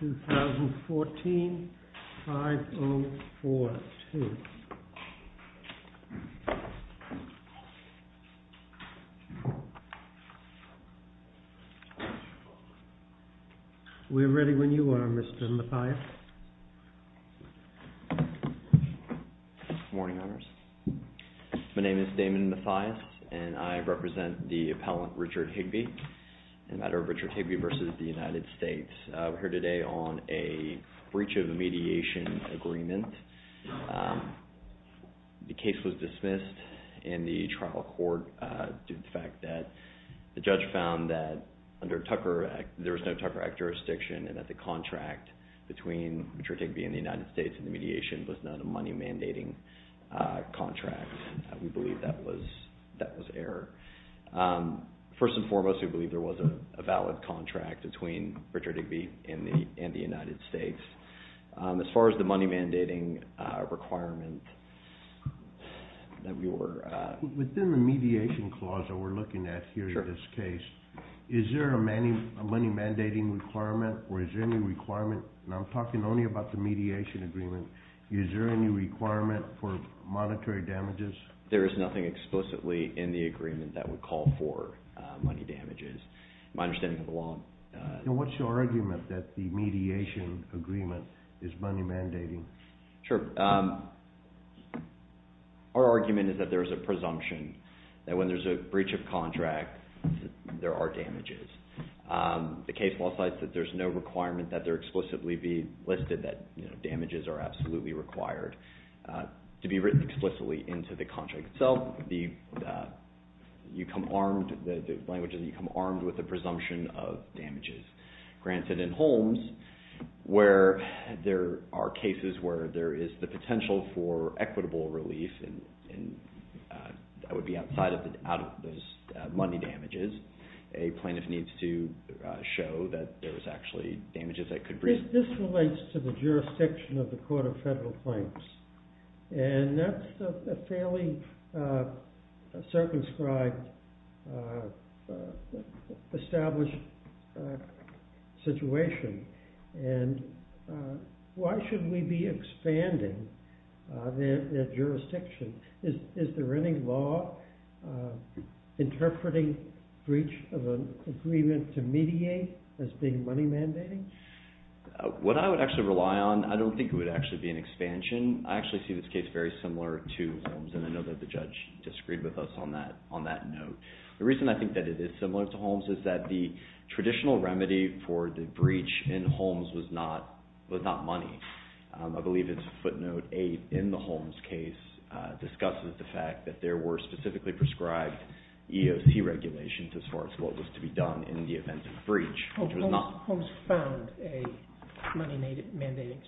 2014, 5042. We're ready when you are, Mr. Mathias. Good morning, members. My name is Damon Mathias, and I represent the appellant Richard Higbie, a matter of Richard Higbie v. United States. We're here today on a breach of a mediation agreement. The case was dismissed in the trial court due to the fact that the judge found that there was no Tucker Act jurisdiction and that the contract between Richard Higbie and the United States in the mediation was not a money mandating contract. We believe that was error. First and foremost, we believe there was a valid contract between Richard Higbie and the United States. As far as the money mandating requirement that we were... Within the mediation clause that we're looking at here in this case, is there a money mandating requirement or is there any requirement, and I'm talking only about the mediation agreement, is there any requirement for monetary damages? There is nothing explicitly in the agreement that would call for money damages. My understanding of the law... What's your argument that the mediation agreement is money mandating? Sure. Our argument is that there's a presumption that when there's a breach of contract, there are damages. The case law says that there's no requirement that there explicitly be listed that damages are absolutely required to be written explicitly into the contract. So, the language is that you come armed with the presumption of damages. Granted in Holmes, where there are cases where there is the potential for equitable relief and that would be outside of those money damages, a plaintiff needs to show that there was actually damages that could be... This relates to the jurisdiction of the Court of Federal Claims and that's a fairly circumscribed, established situation and why should we be expanding their jurisdiction? Is there any law interpreting breach of an agreement to mediate as being money mandating? What I would actually rely on, I don't think it would actually be an expansion. I actually see this case very similar to Holmes and I know that the judge disagreed with us on that note. The reason I think that it is similar to Holmes is that the traditional remedy for the breach in Holmes was not money. I believe it's footnote 8 in the Holmes case discusses the fact that there were specifically prescribed EOC regulations as far as what was to be done in the event of a breach, which was not... Holmes found a money mandating...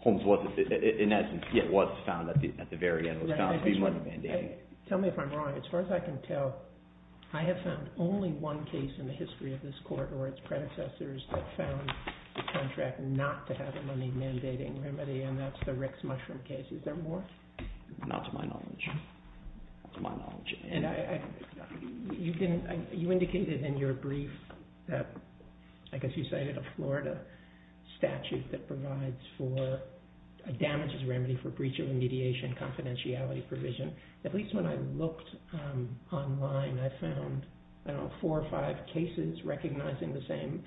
Holmes was... In essence, it was found at the very end. It was found to be money mandating. Tell me if I'm wrong. As far as I can tell, I have found only one case in the history of this Court or its predecessors that found the contract not to have a money mandating remedy and that's the Rick's Mushroom case. Is there more? Not to my knowledge. You indicated in your brief that, I guess you cited a Florida statute that provides for damages remedy for breach of mediation confidentiality provision. At least when I looked online, I found four or five cases recognizing the same.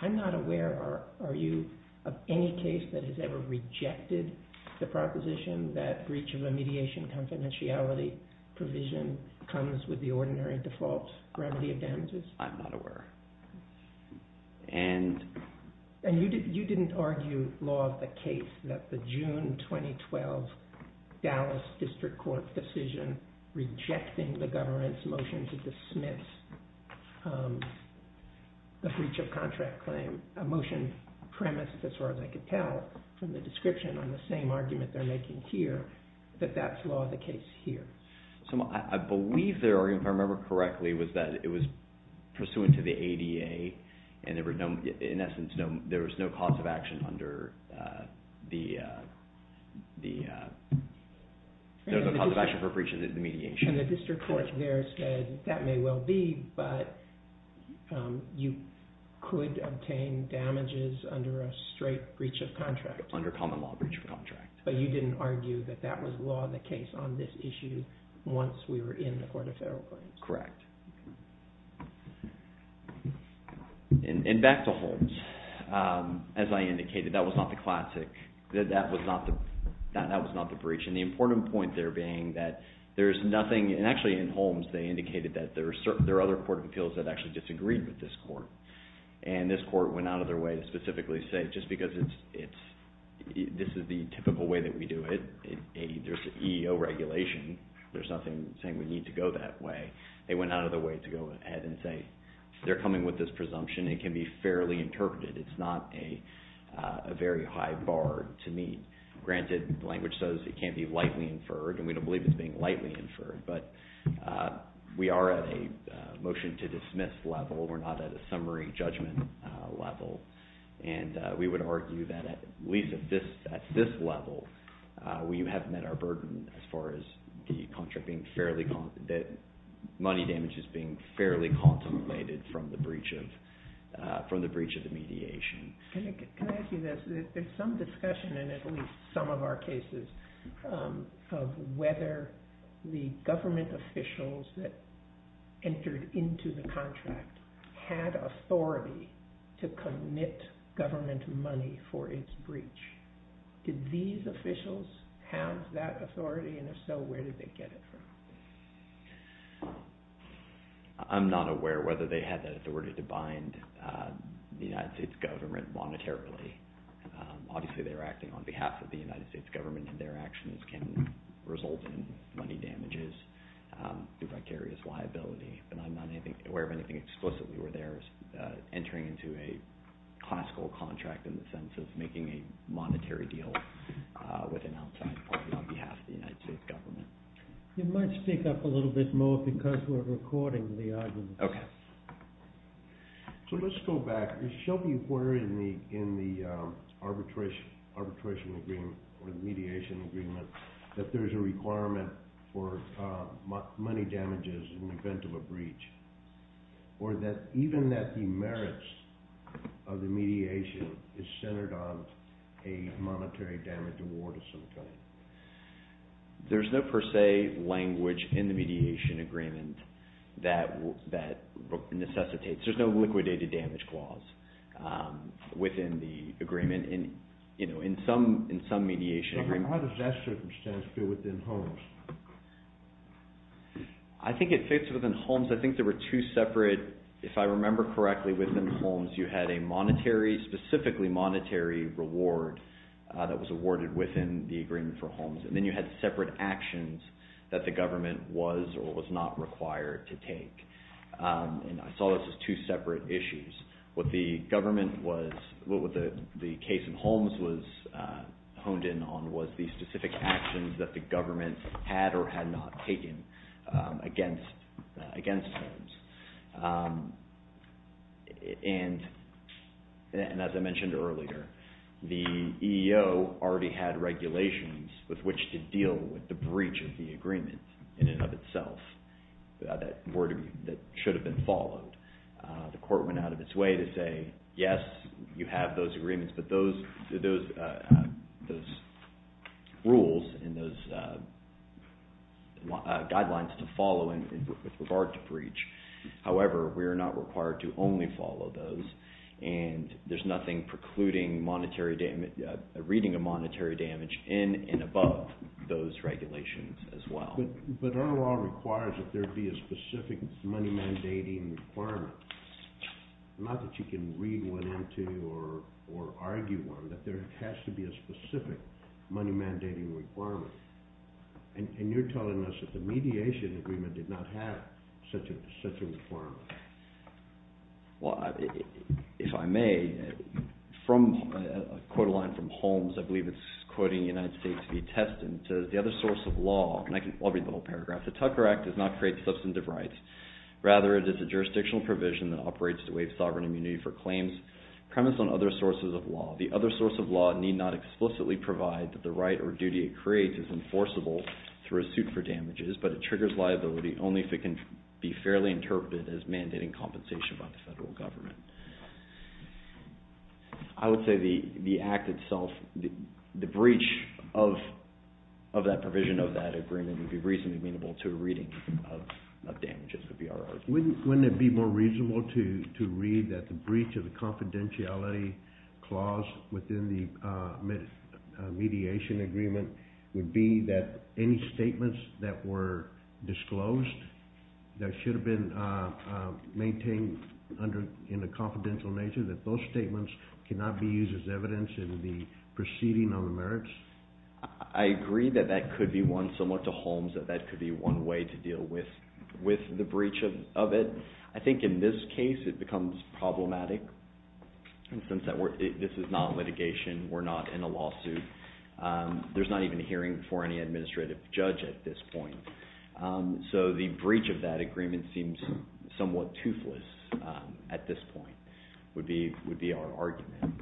I'm not aware, are you, of any case that has ever rejected the proposition that breach of a mediation confidentiality provision comes with the ordinary default remedy of damages? I'm not aware. And you didn't argue law of the case that the June 2012 Dallas District Court decision rejecting the government's motion to dismiss the breach of contract claim, a motion premised as far as I could tell from the description on the same argument they're making here, that that's law of the case here. I believe their argument, if I remember correctly, was that it was pursuant to the ADA and in essence there was no cause of action for breach of mediation. And the district court there said that may well be, but you could obtain damages under a straight breach of contract. Under common law breach of contract. But you didn't argue that that was law of the case on this issue once we were in the court of federal claims. Correct. And back to Holmes. As I indicated, that was not the classic, that was not the breach. And the important point there being that there's nothing, and actually in Holmes they indicated that there are other court of appeals that actually disagreed with this court. And this court went out of their way to specifically say just because this is the typical way that we do it, there's an EEO regulation, there's nothing saying we need to go that way. They went out of their way to go ahead and say they're coming with this presumption, it can be fairly interpreted, it's not a very high bar to meet. Granted, language says it can't be lightly inferred and we don't believe it's being lightly inferred, but we are at a motion to dismiss level, we're not at a summary judgment level. And we would argue that at least at this level, we have met our burden as far as the contract being fairly, that money damage is being fairly contemplated from the breach of the mediation. Can I ask you this? There's some discussion in at least some of our cases of whether the government officials that entered into the contract had authority to commit government money for its breach. Did these officials have that authority and if so, where did they get it from? I'm not aware whether they had that authority to bind the United States government monetarily. Obviously, they were acting on behalf of the United States government and their actions can result in money damages, the vicarious liability, but I'm not aware of anything explicitly where they're entering into a classical contract in the sense of making a monetary deal with an outside party on behalf of the United States government. You might speak up a little bit more because we're recording the argument. Okay. So let's go back. Shelby, where in the arbitration agreement or the mediation agreement that there's a even that the merits of the mediation is centered on a monetary damage award of some kind? There's no per se language in the mediation agreement that necessitates. There's no liquidated damage clause within the agreement in some mediation agreement. How does that circumstance fit within Holmes? I think it fits within Holmes. I think there were two separate, if I remember correctly, within Holmes, you had a monetary, specifically monetary reward that was awarded within the agreement for Holmes. And then you had separate actions that the government was or was not required to take. And I saw this as two separate issues. What the government was, what the case in Holmes was honed in on was the specific actions that the government had or had not taken against Holmes. And as I mentioned earlier, the EEO already had regulations with which to deal with the breach of the agreement in and of itself that should have been followed. The court went out of its way to say, yes, you have those agreements, but those rules and those guidelines to follow with regard to breach. However, we are not required to only follow those. And there's nothing precluding reading a monetary damage in and above those regulations as well. But our law requires that there be a specific money mandating requirement. Not that you can read one into or argue one, but there has to be a specific money mandating requirement. And you're telling us that the mediation agreement did not have such a requirement. Well, if I may, from a quote line from Holmes, I believe it's quoting United States v. Teston, says the other source of law, and I'll read the whole paragraph, the Tucker Act does not create substantive rights. Rather, it is a jurisdictional provision that operates to waive sovereign immunity for claims premised on other sources of law. The other source of law need not explicitly provide that the right or duty it creates is enforceable through a suit for damages, but it triggers liability only if it can be fairly interpreted as mandating compensation by the federal government. I would say the act itself, the breach of that provision of that agreement would be reasonably amenable to a reading of damages, would be our argument. Wouldn't it be more reasonable to read that the breach of the confidentiality clause within the mediation agreement would be that any statements that were disclosed that should have been maintained in a confidential nature, that those statements cannot be used as evidence in the proceeding on the merits? I agree that that could be one, similar to Holmes, that that could be one way to deal with the breach of it. I think in this case it becomes problematic, and since this is not litigation, we're not in a lawsuit, there's not even a hearing for any administrative judge at this point. So the breach of that agreement seems somewhat toothless at this point, would be our argument.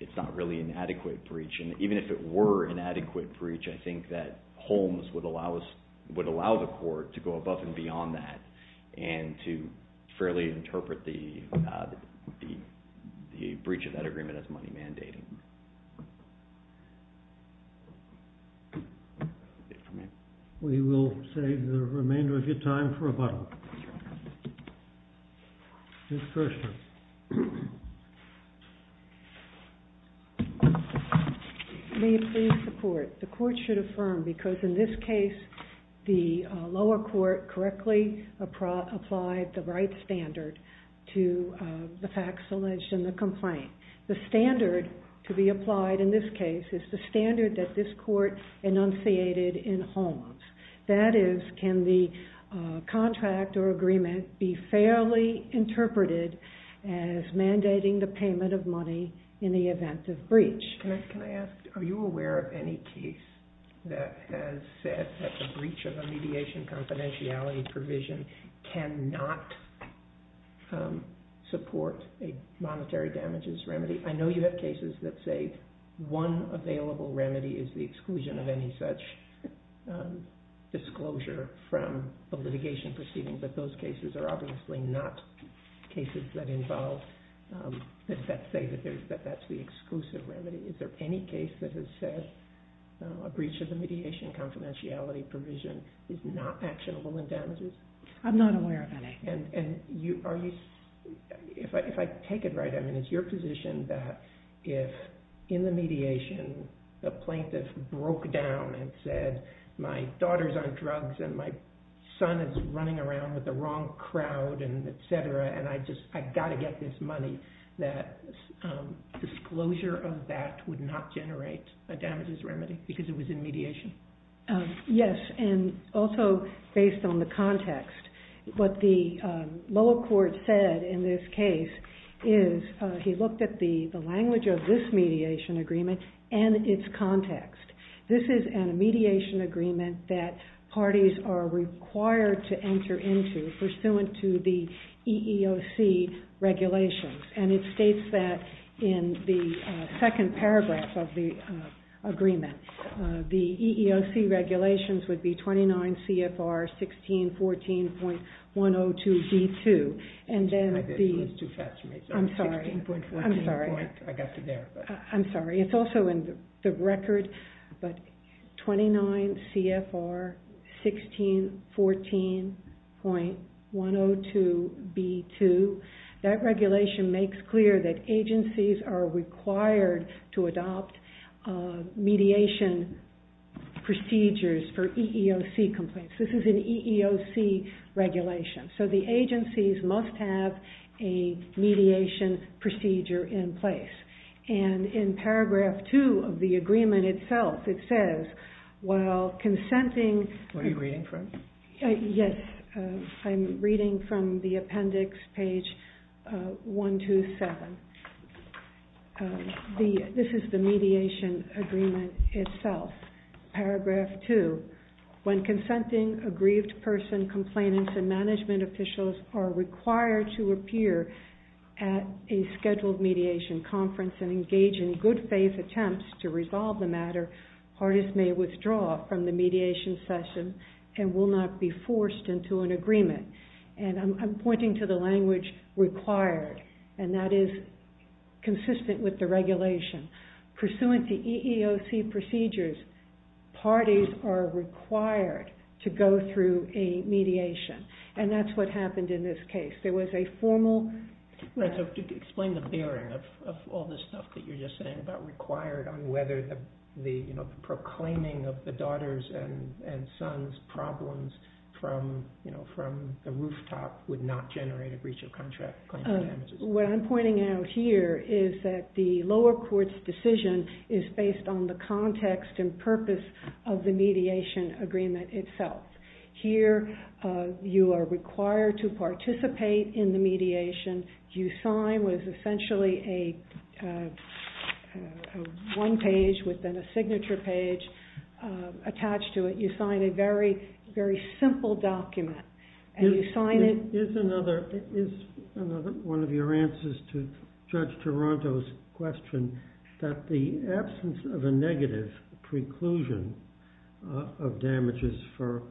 It's not really an adequate breach, and even if it were an adequate breach, I think that Holmes would allow the court to go above and beyond that and to fairly interpret the breach of that agreement as money mandating. We will save the remainder of your time for rebuttal. Ms. Kirshner. May it please the court. The court should affirm, because in this case, the lower court correctly applied the right standard to the facts alleged in the complaint. The standard to be applied in this case is the standard that this court enunciated in Holmes. That is, can the contract or agreement be fairly interpreted as mandating the payment of money in the event of breach? Can I ask, are you aware of any case that has said that the breach of a mediation confidentiality provision cannot support a monetary damages remedy? I know you have cases that say one available remedy is the exclusion of any such disclosure from a litigation proceeding, but those cases are obviously not cases that say that that's the exclusive remedy. Is there any case that has said a breach of the mediation confidentiality provision is not actionable in damages? I'm not aware of any. If I take it right, it's your position that if in the mediation the plaintiff broke down and said, my daughter's on drugs and my son is running around with the wrong crowd, etc., and I've got to get this money, that disclosure of that would not generate a damages remedy because it was in mediation? Yes, and also based on the context. What the lower court said in this case is he looked at the language of this mediation agreement and its context. This is a mediation agreement that parties are required to enter into pursuant to the EEOC regulations, and it states that in the second paragraph of the agreement. The EEOC regulations would be 29 CFR 1614.102B2. I'm sorry, it's also in the record, but 29 CFR 1614.102B2. That regulation makes clear that agencies are required to adopt mediation procedures for EEOC complaints. This is an EEOC regulation, so the agencies must have a mediation procedure in place. And in paragraph two of the agreement itself, it says, while consenting. What are you reading from? Yes, I'm reading from the appendix page 127. This is the mediation agreement itself. Paragraph two. When consenting a grieved person, complainants and management officials are required to appear at a scheduled mediation conference and engage in good faith attempts to resolve the matter, parties may withdraw from the mediation session and will not be forced into an agreement. And I'm pointing to the language required, and that is consistent with the regulation. Pursuant to EEOC procedures, parties are required to go through a mediation, and that's what happened in this case. There was a formal... from the rooftop would not generate a breach of contract. What I'm pointing out here is that the lower court's decision is based on the context and purpose of the mediation agreement itself. Here, you are required to participate in the mediation. You sign with essentially a one page within a signature page attached to it. You sign a very, very simple document, and you sign it... Is another one of your answers to Judge Toronto's question that the absence of a negative preclusion of damages for...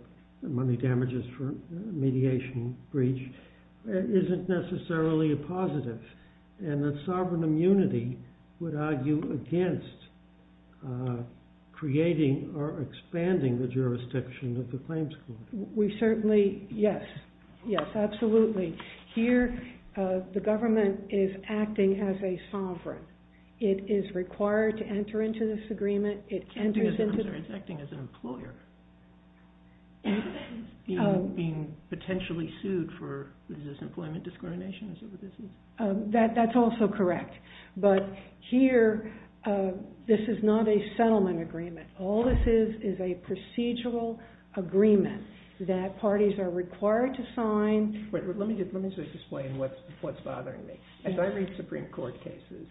money damages for mediation breach isn't necessarily a positive, and that sovereign immunity would argue against creating or expanding the jurisdiction of the claims court. We certainly... yes, yes, absolutely. Here, the government is acting as a sovereign. It is required to enter into this agreement. It enters into... I'm sorry, it's acting as an employer. Being potentially sued for the disemployment discrimination, is that what this is? That's also correct, but here, this is not a settlement agreement. All this is is a procedural agreement that parties are required to sign... Let me just explain what's bothering me. As I read Supreme Court cases,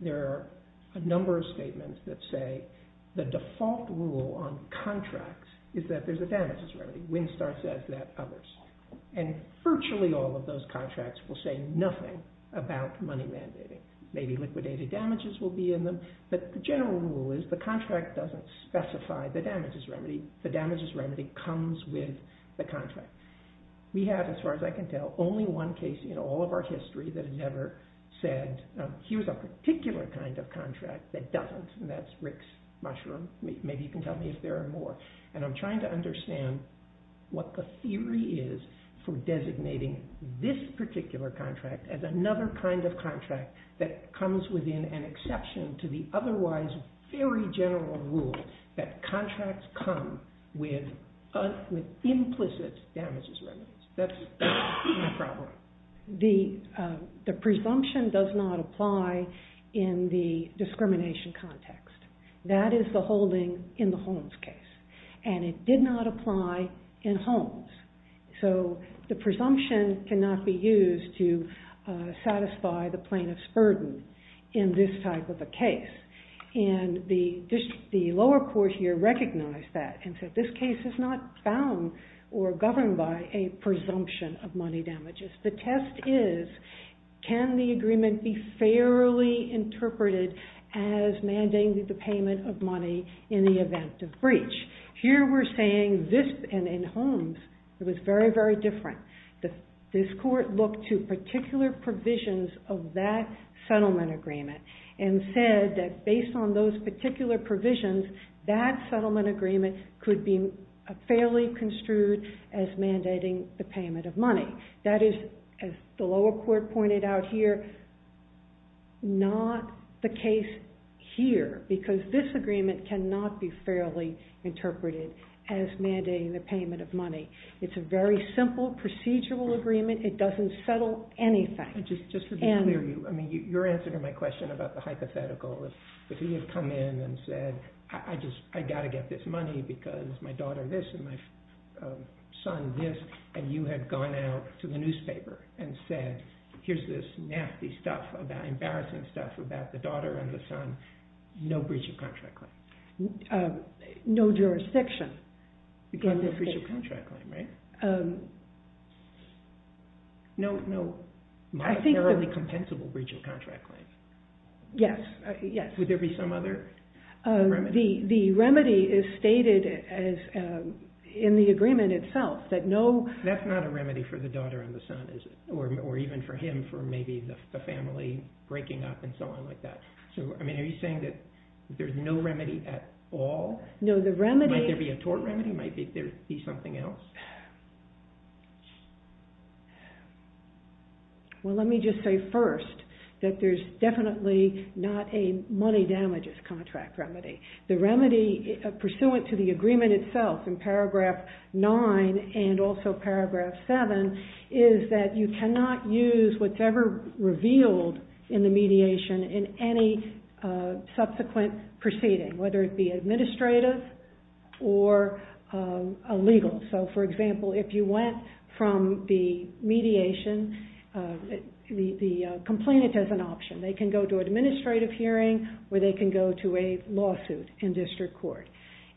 there are a number of statements that say the default rule on contracts is that there's a damages remedy. Winstar says that, others. And virtually all of those contracts will say nothing about money mandating. Maybe liquidated damages will be in them, but the general rule is the contract doesn't specify the damages remedy. The damages remedy comes with the contract. We have, as far as I can tell, only one case in all of our history that never said, here's a particular kind of contract that doesn't. And that's Rick's Mushroom. Maybe you can tell me if there are more. And I'm trying to understand what the theory is for designating this particular contract as another kind of contract that comes within an exception to the otherwise very general rule that contracts come with implicit damages remedies. That's my problem. The presumption does not apply in the discrimination context. That is the holding in the Holmes case. And it did not apply in Holmes. So the presumption cannot be used to satisfy the plaintiff's burden in this type of a case. And the lower court here recognized that and said this case is not bound or governed by a presumption of money damages. The test is, can the agreement be fairly interpreted as mandating the payment of money in the event of breach? Here we're saying this, and in Holmes, it was very, very different. This court looked to particular provisions of that settlement agreement and said that based on those particular provisions, that settlement agreement could be fairly construed as mandating the payment of money. That is, as the lower court pointed out here, not the case here. Because this agreement cannot be fairly interpreted as mandating the payment of money. It's a very simple procedural agreement. It doesn't settle anything. Just to be clear, your answer to my question about the hypothetical, if he had come in and said, I got to get this money because my daughter this and my son this, and you had gone out to the newspaper and said, here's this nasty stuff, embarrassing stuff about the daughter and the son, no breach of contract claim. No jurisdiction. Because no breach of contract claim, right? No, no. My fairly compensable breach of contract claim. Yes, yes. Would there be some other remedy? The remedy is stated in the agreement itself that no. That's not a remedy for the daughter and the son, is it? Or even for him, for maybe the family breaking up and so on like that. So, I mean, are you saying that there's no remedy at all? No, the remedy. Might there be a tort remedy? Might there be something else? Well, let me just say first that there's definitely not a money damages contract remedy. The remedy pursuant to the agreement itself in paragraph 9 and also paragraph 7 is that you cannot use whatever revealed in the mediation in any subsequent proceeding, whether it be administrative or legal. So, for example, if you went from the mediation, the complainant has an option. They can go to an administrative hearing or they can go to a lawsuit in district court.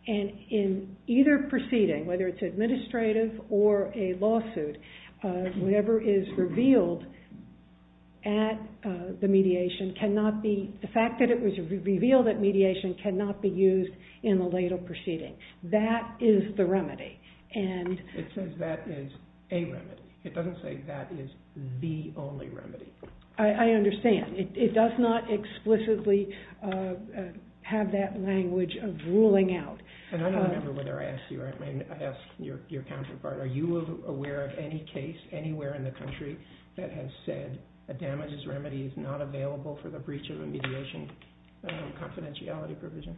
And in either proceeding, whether it's administrative or a lawsuit, whatever is revealed at the mediation cannot be, the fact that it was revealed at mediation cannot be used in the legal proceeding. That is the remedy. It says that is a remedy. It doesn't say that is the only remedy. I understand. It does not explicitly have that language of ruling out. And I don't remember whether I asked you or I asked your counterpart. Are you aware of any case anywhere in the country that has said a damages remedy is not available for the breach of a mediation confidentiality provision?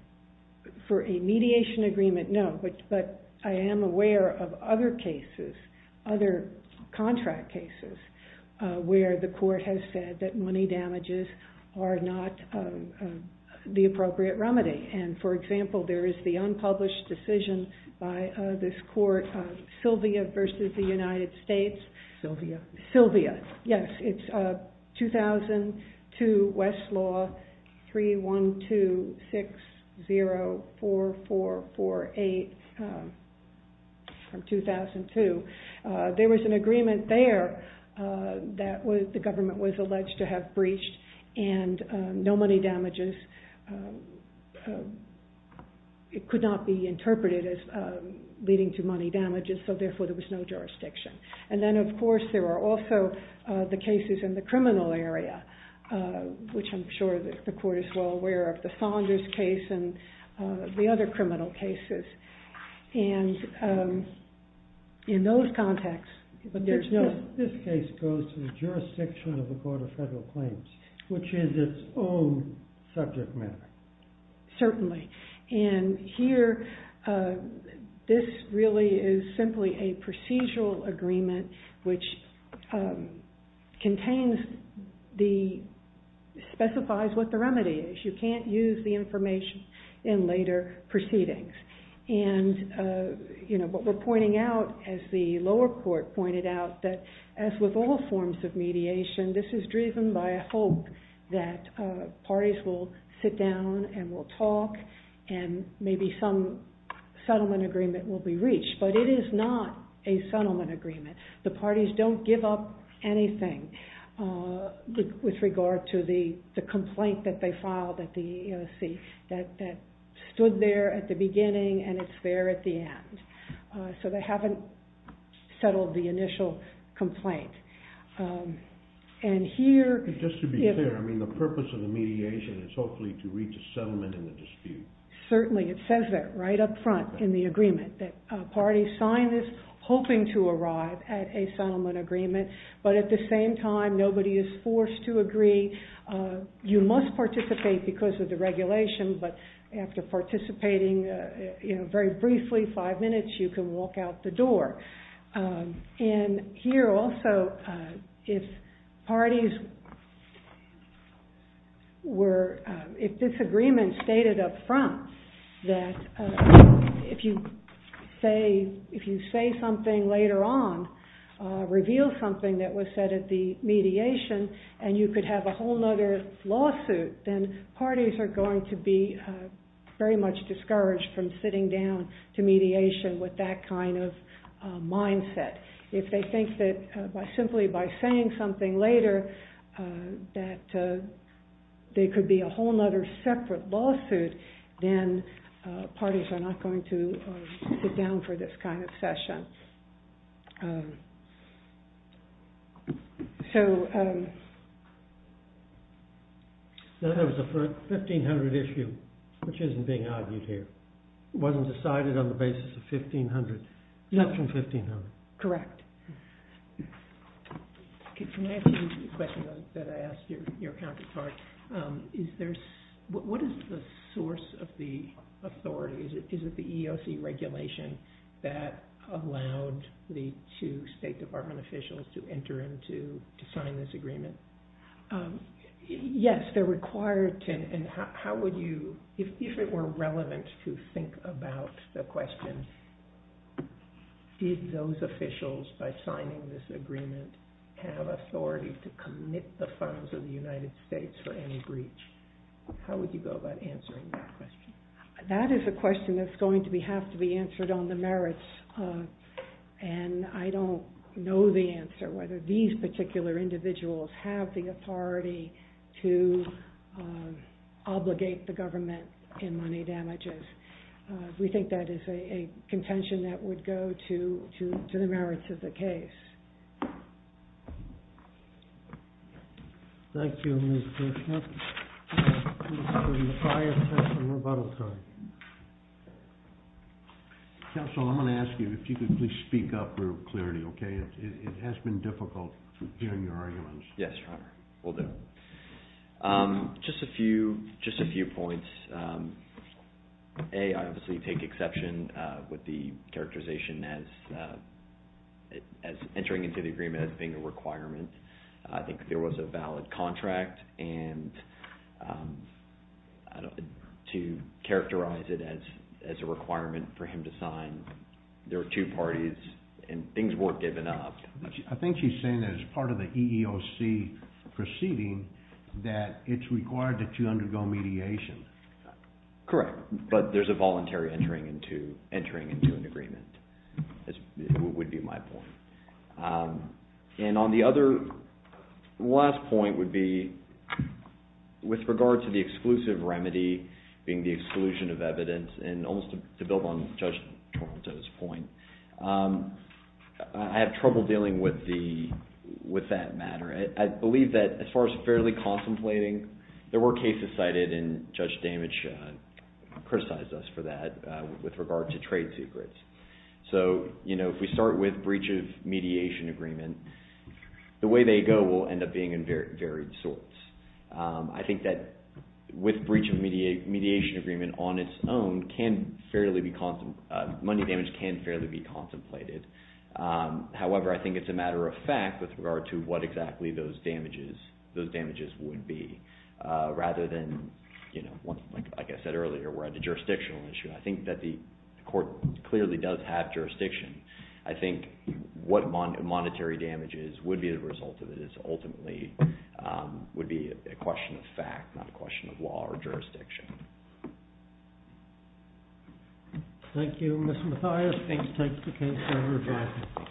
For a mediation agreement, no. But I am aware of other cases, other contract cases, where the court has said that money damages are not the appropriate remedy. And, for example, there is the unpublished decision by this court, Sylvia versus the United States. Sylvia. Sylvia. Yes, it's 2002 Westlaw 312604448 from 2002. There was an agreement there that the government was alleged to have breached and no money damages, it could not be interpreted as leading to money damages. So, therefore, there was no jurisdiction. And then, of course, there are also the cases in the criminal area, which I'm sure the court is well aware of. The Saunders case and the other criminal cases. And in those contexts. This case goes to the jurisdiction of the Court of Federal Claims, which is its own subject matter. Certainly. And here, this really is simply a procedural agreement, which contains the, specifies what the remedy is. You can't use the information in later proceedings. And, you know, what we're pointing out, as the lower court pointed out, that as with all forms of mediation, this is driven by a hope that parties will sit down and we'll talk and maybe some settlement agreement will be reached. But it is not a settlement agreement. The parties don't give up anything with regard to the complaint that they filed at the EEOC, that stood there at the beginning and it's there at the end. So they haven't settled the initial complaint. And here... Just to be clear, I mean, the purpose of the mediation is hopefully to reach a settlement in the dispute. And certainly it says that right up front in the agreement that parties signed this hoping to arrive at a settlement agreement. But at the same time, nobody is forced to agree. You must participate because of the regulation. But after participating, you know, very briefly, five minutes, you can walk out the door. And here also, if parties were... If this agreement stated up front that if you say something later on, reveal something that was said at the mediation, and you could have a whole other lawsuit, then parties are going to be very much discouraged from sitting down to mediation with that kind of mindset. If they think that simply by saying something later that there could be a whole other separate lawsuit, then parties are not going to sit down for this kind of session. So... That was a 1500 issue, which isn't being argued here. It wasn't decided on the basis of 1500. Not from 1500. Correct. Can I ask you a question that I asked your counterpart? What is the source of the authority? Is it the EEOC regulation that allowed the two State Department officials to enter and to sign this agreement? Yes, they're required to. And how would you... If it were relevant to think about the question, did those officials, by signing this agreement, have authority to commit the funds of the United States for any breach? How would you go about answering that question? That is a question that's going to have to be answered on the merits. And I don't know the answer, whether these particular individuals have the authority to obligate the government in money damages. We think that is a contention that would go to the merits of the case. Thank you, Mr. Schmidt. Mr. Macias has some rebuttal time. Counsel, I'm going to ask you if you could please speak up for clarity, okay? It has been difficult hearing your arguments. Yes, Your Honor. Will do. Just a few points. A, I obviously take exception with the characterization as entering into the agreement as being a requirement. I think there was a valid contract, and to characterize it as a requirement for him to sign, there were two parties, and things weren't given up. I think she's saying that as part of the EEOC proceeding, that it's required that you undergo mediation. Correct, but there's a voluntary entering into an agreement, would be my point. And on the other last point would be, with regard to the exclusive remedy being the exclusion of evidence, and almost to build on Judge Toronto's point, I have trouble dealing with that matter. I believe that as far as fairly contemplating, there were cases cited, and Judge Damage criticized us for that with regard to trade secrets. So, if we start with breach of mediation agreement, the way they go will end up being in varied sorts. I think that with breach of mediation agreement on its own, money damage can fairly be contemplated. However, I think it's a matter of fact with regard to what exactly those damages would be, rather than, like I said earlier, the jurisdictional issue. I think that the court clearly does have jurisdiction. I think what monetary damages would be the result of this ultimately would be a question of fact, not a question of law or jurisdiction. Thank you, Mr. Mathias. Thanks for taking the case, Senator Jackson.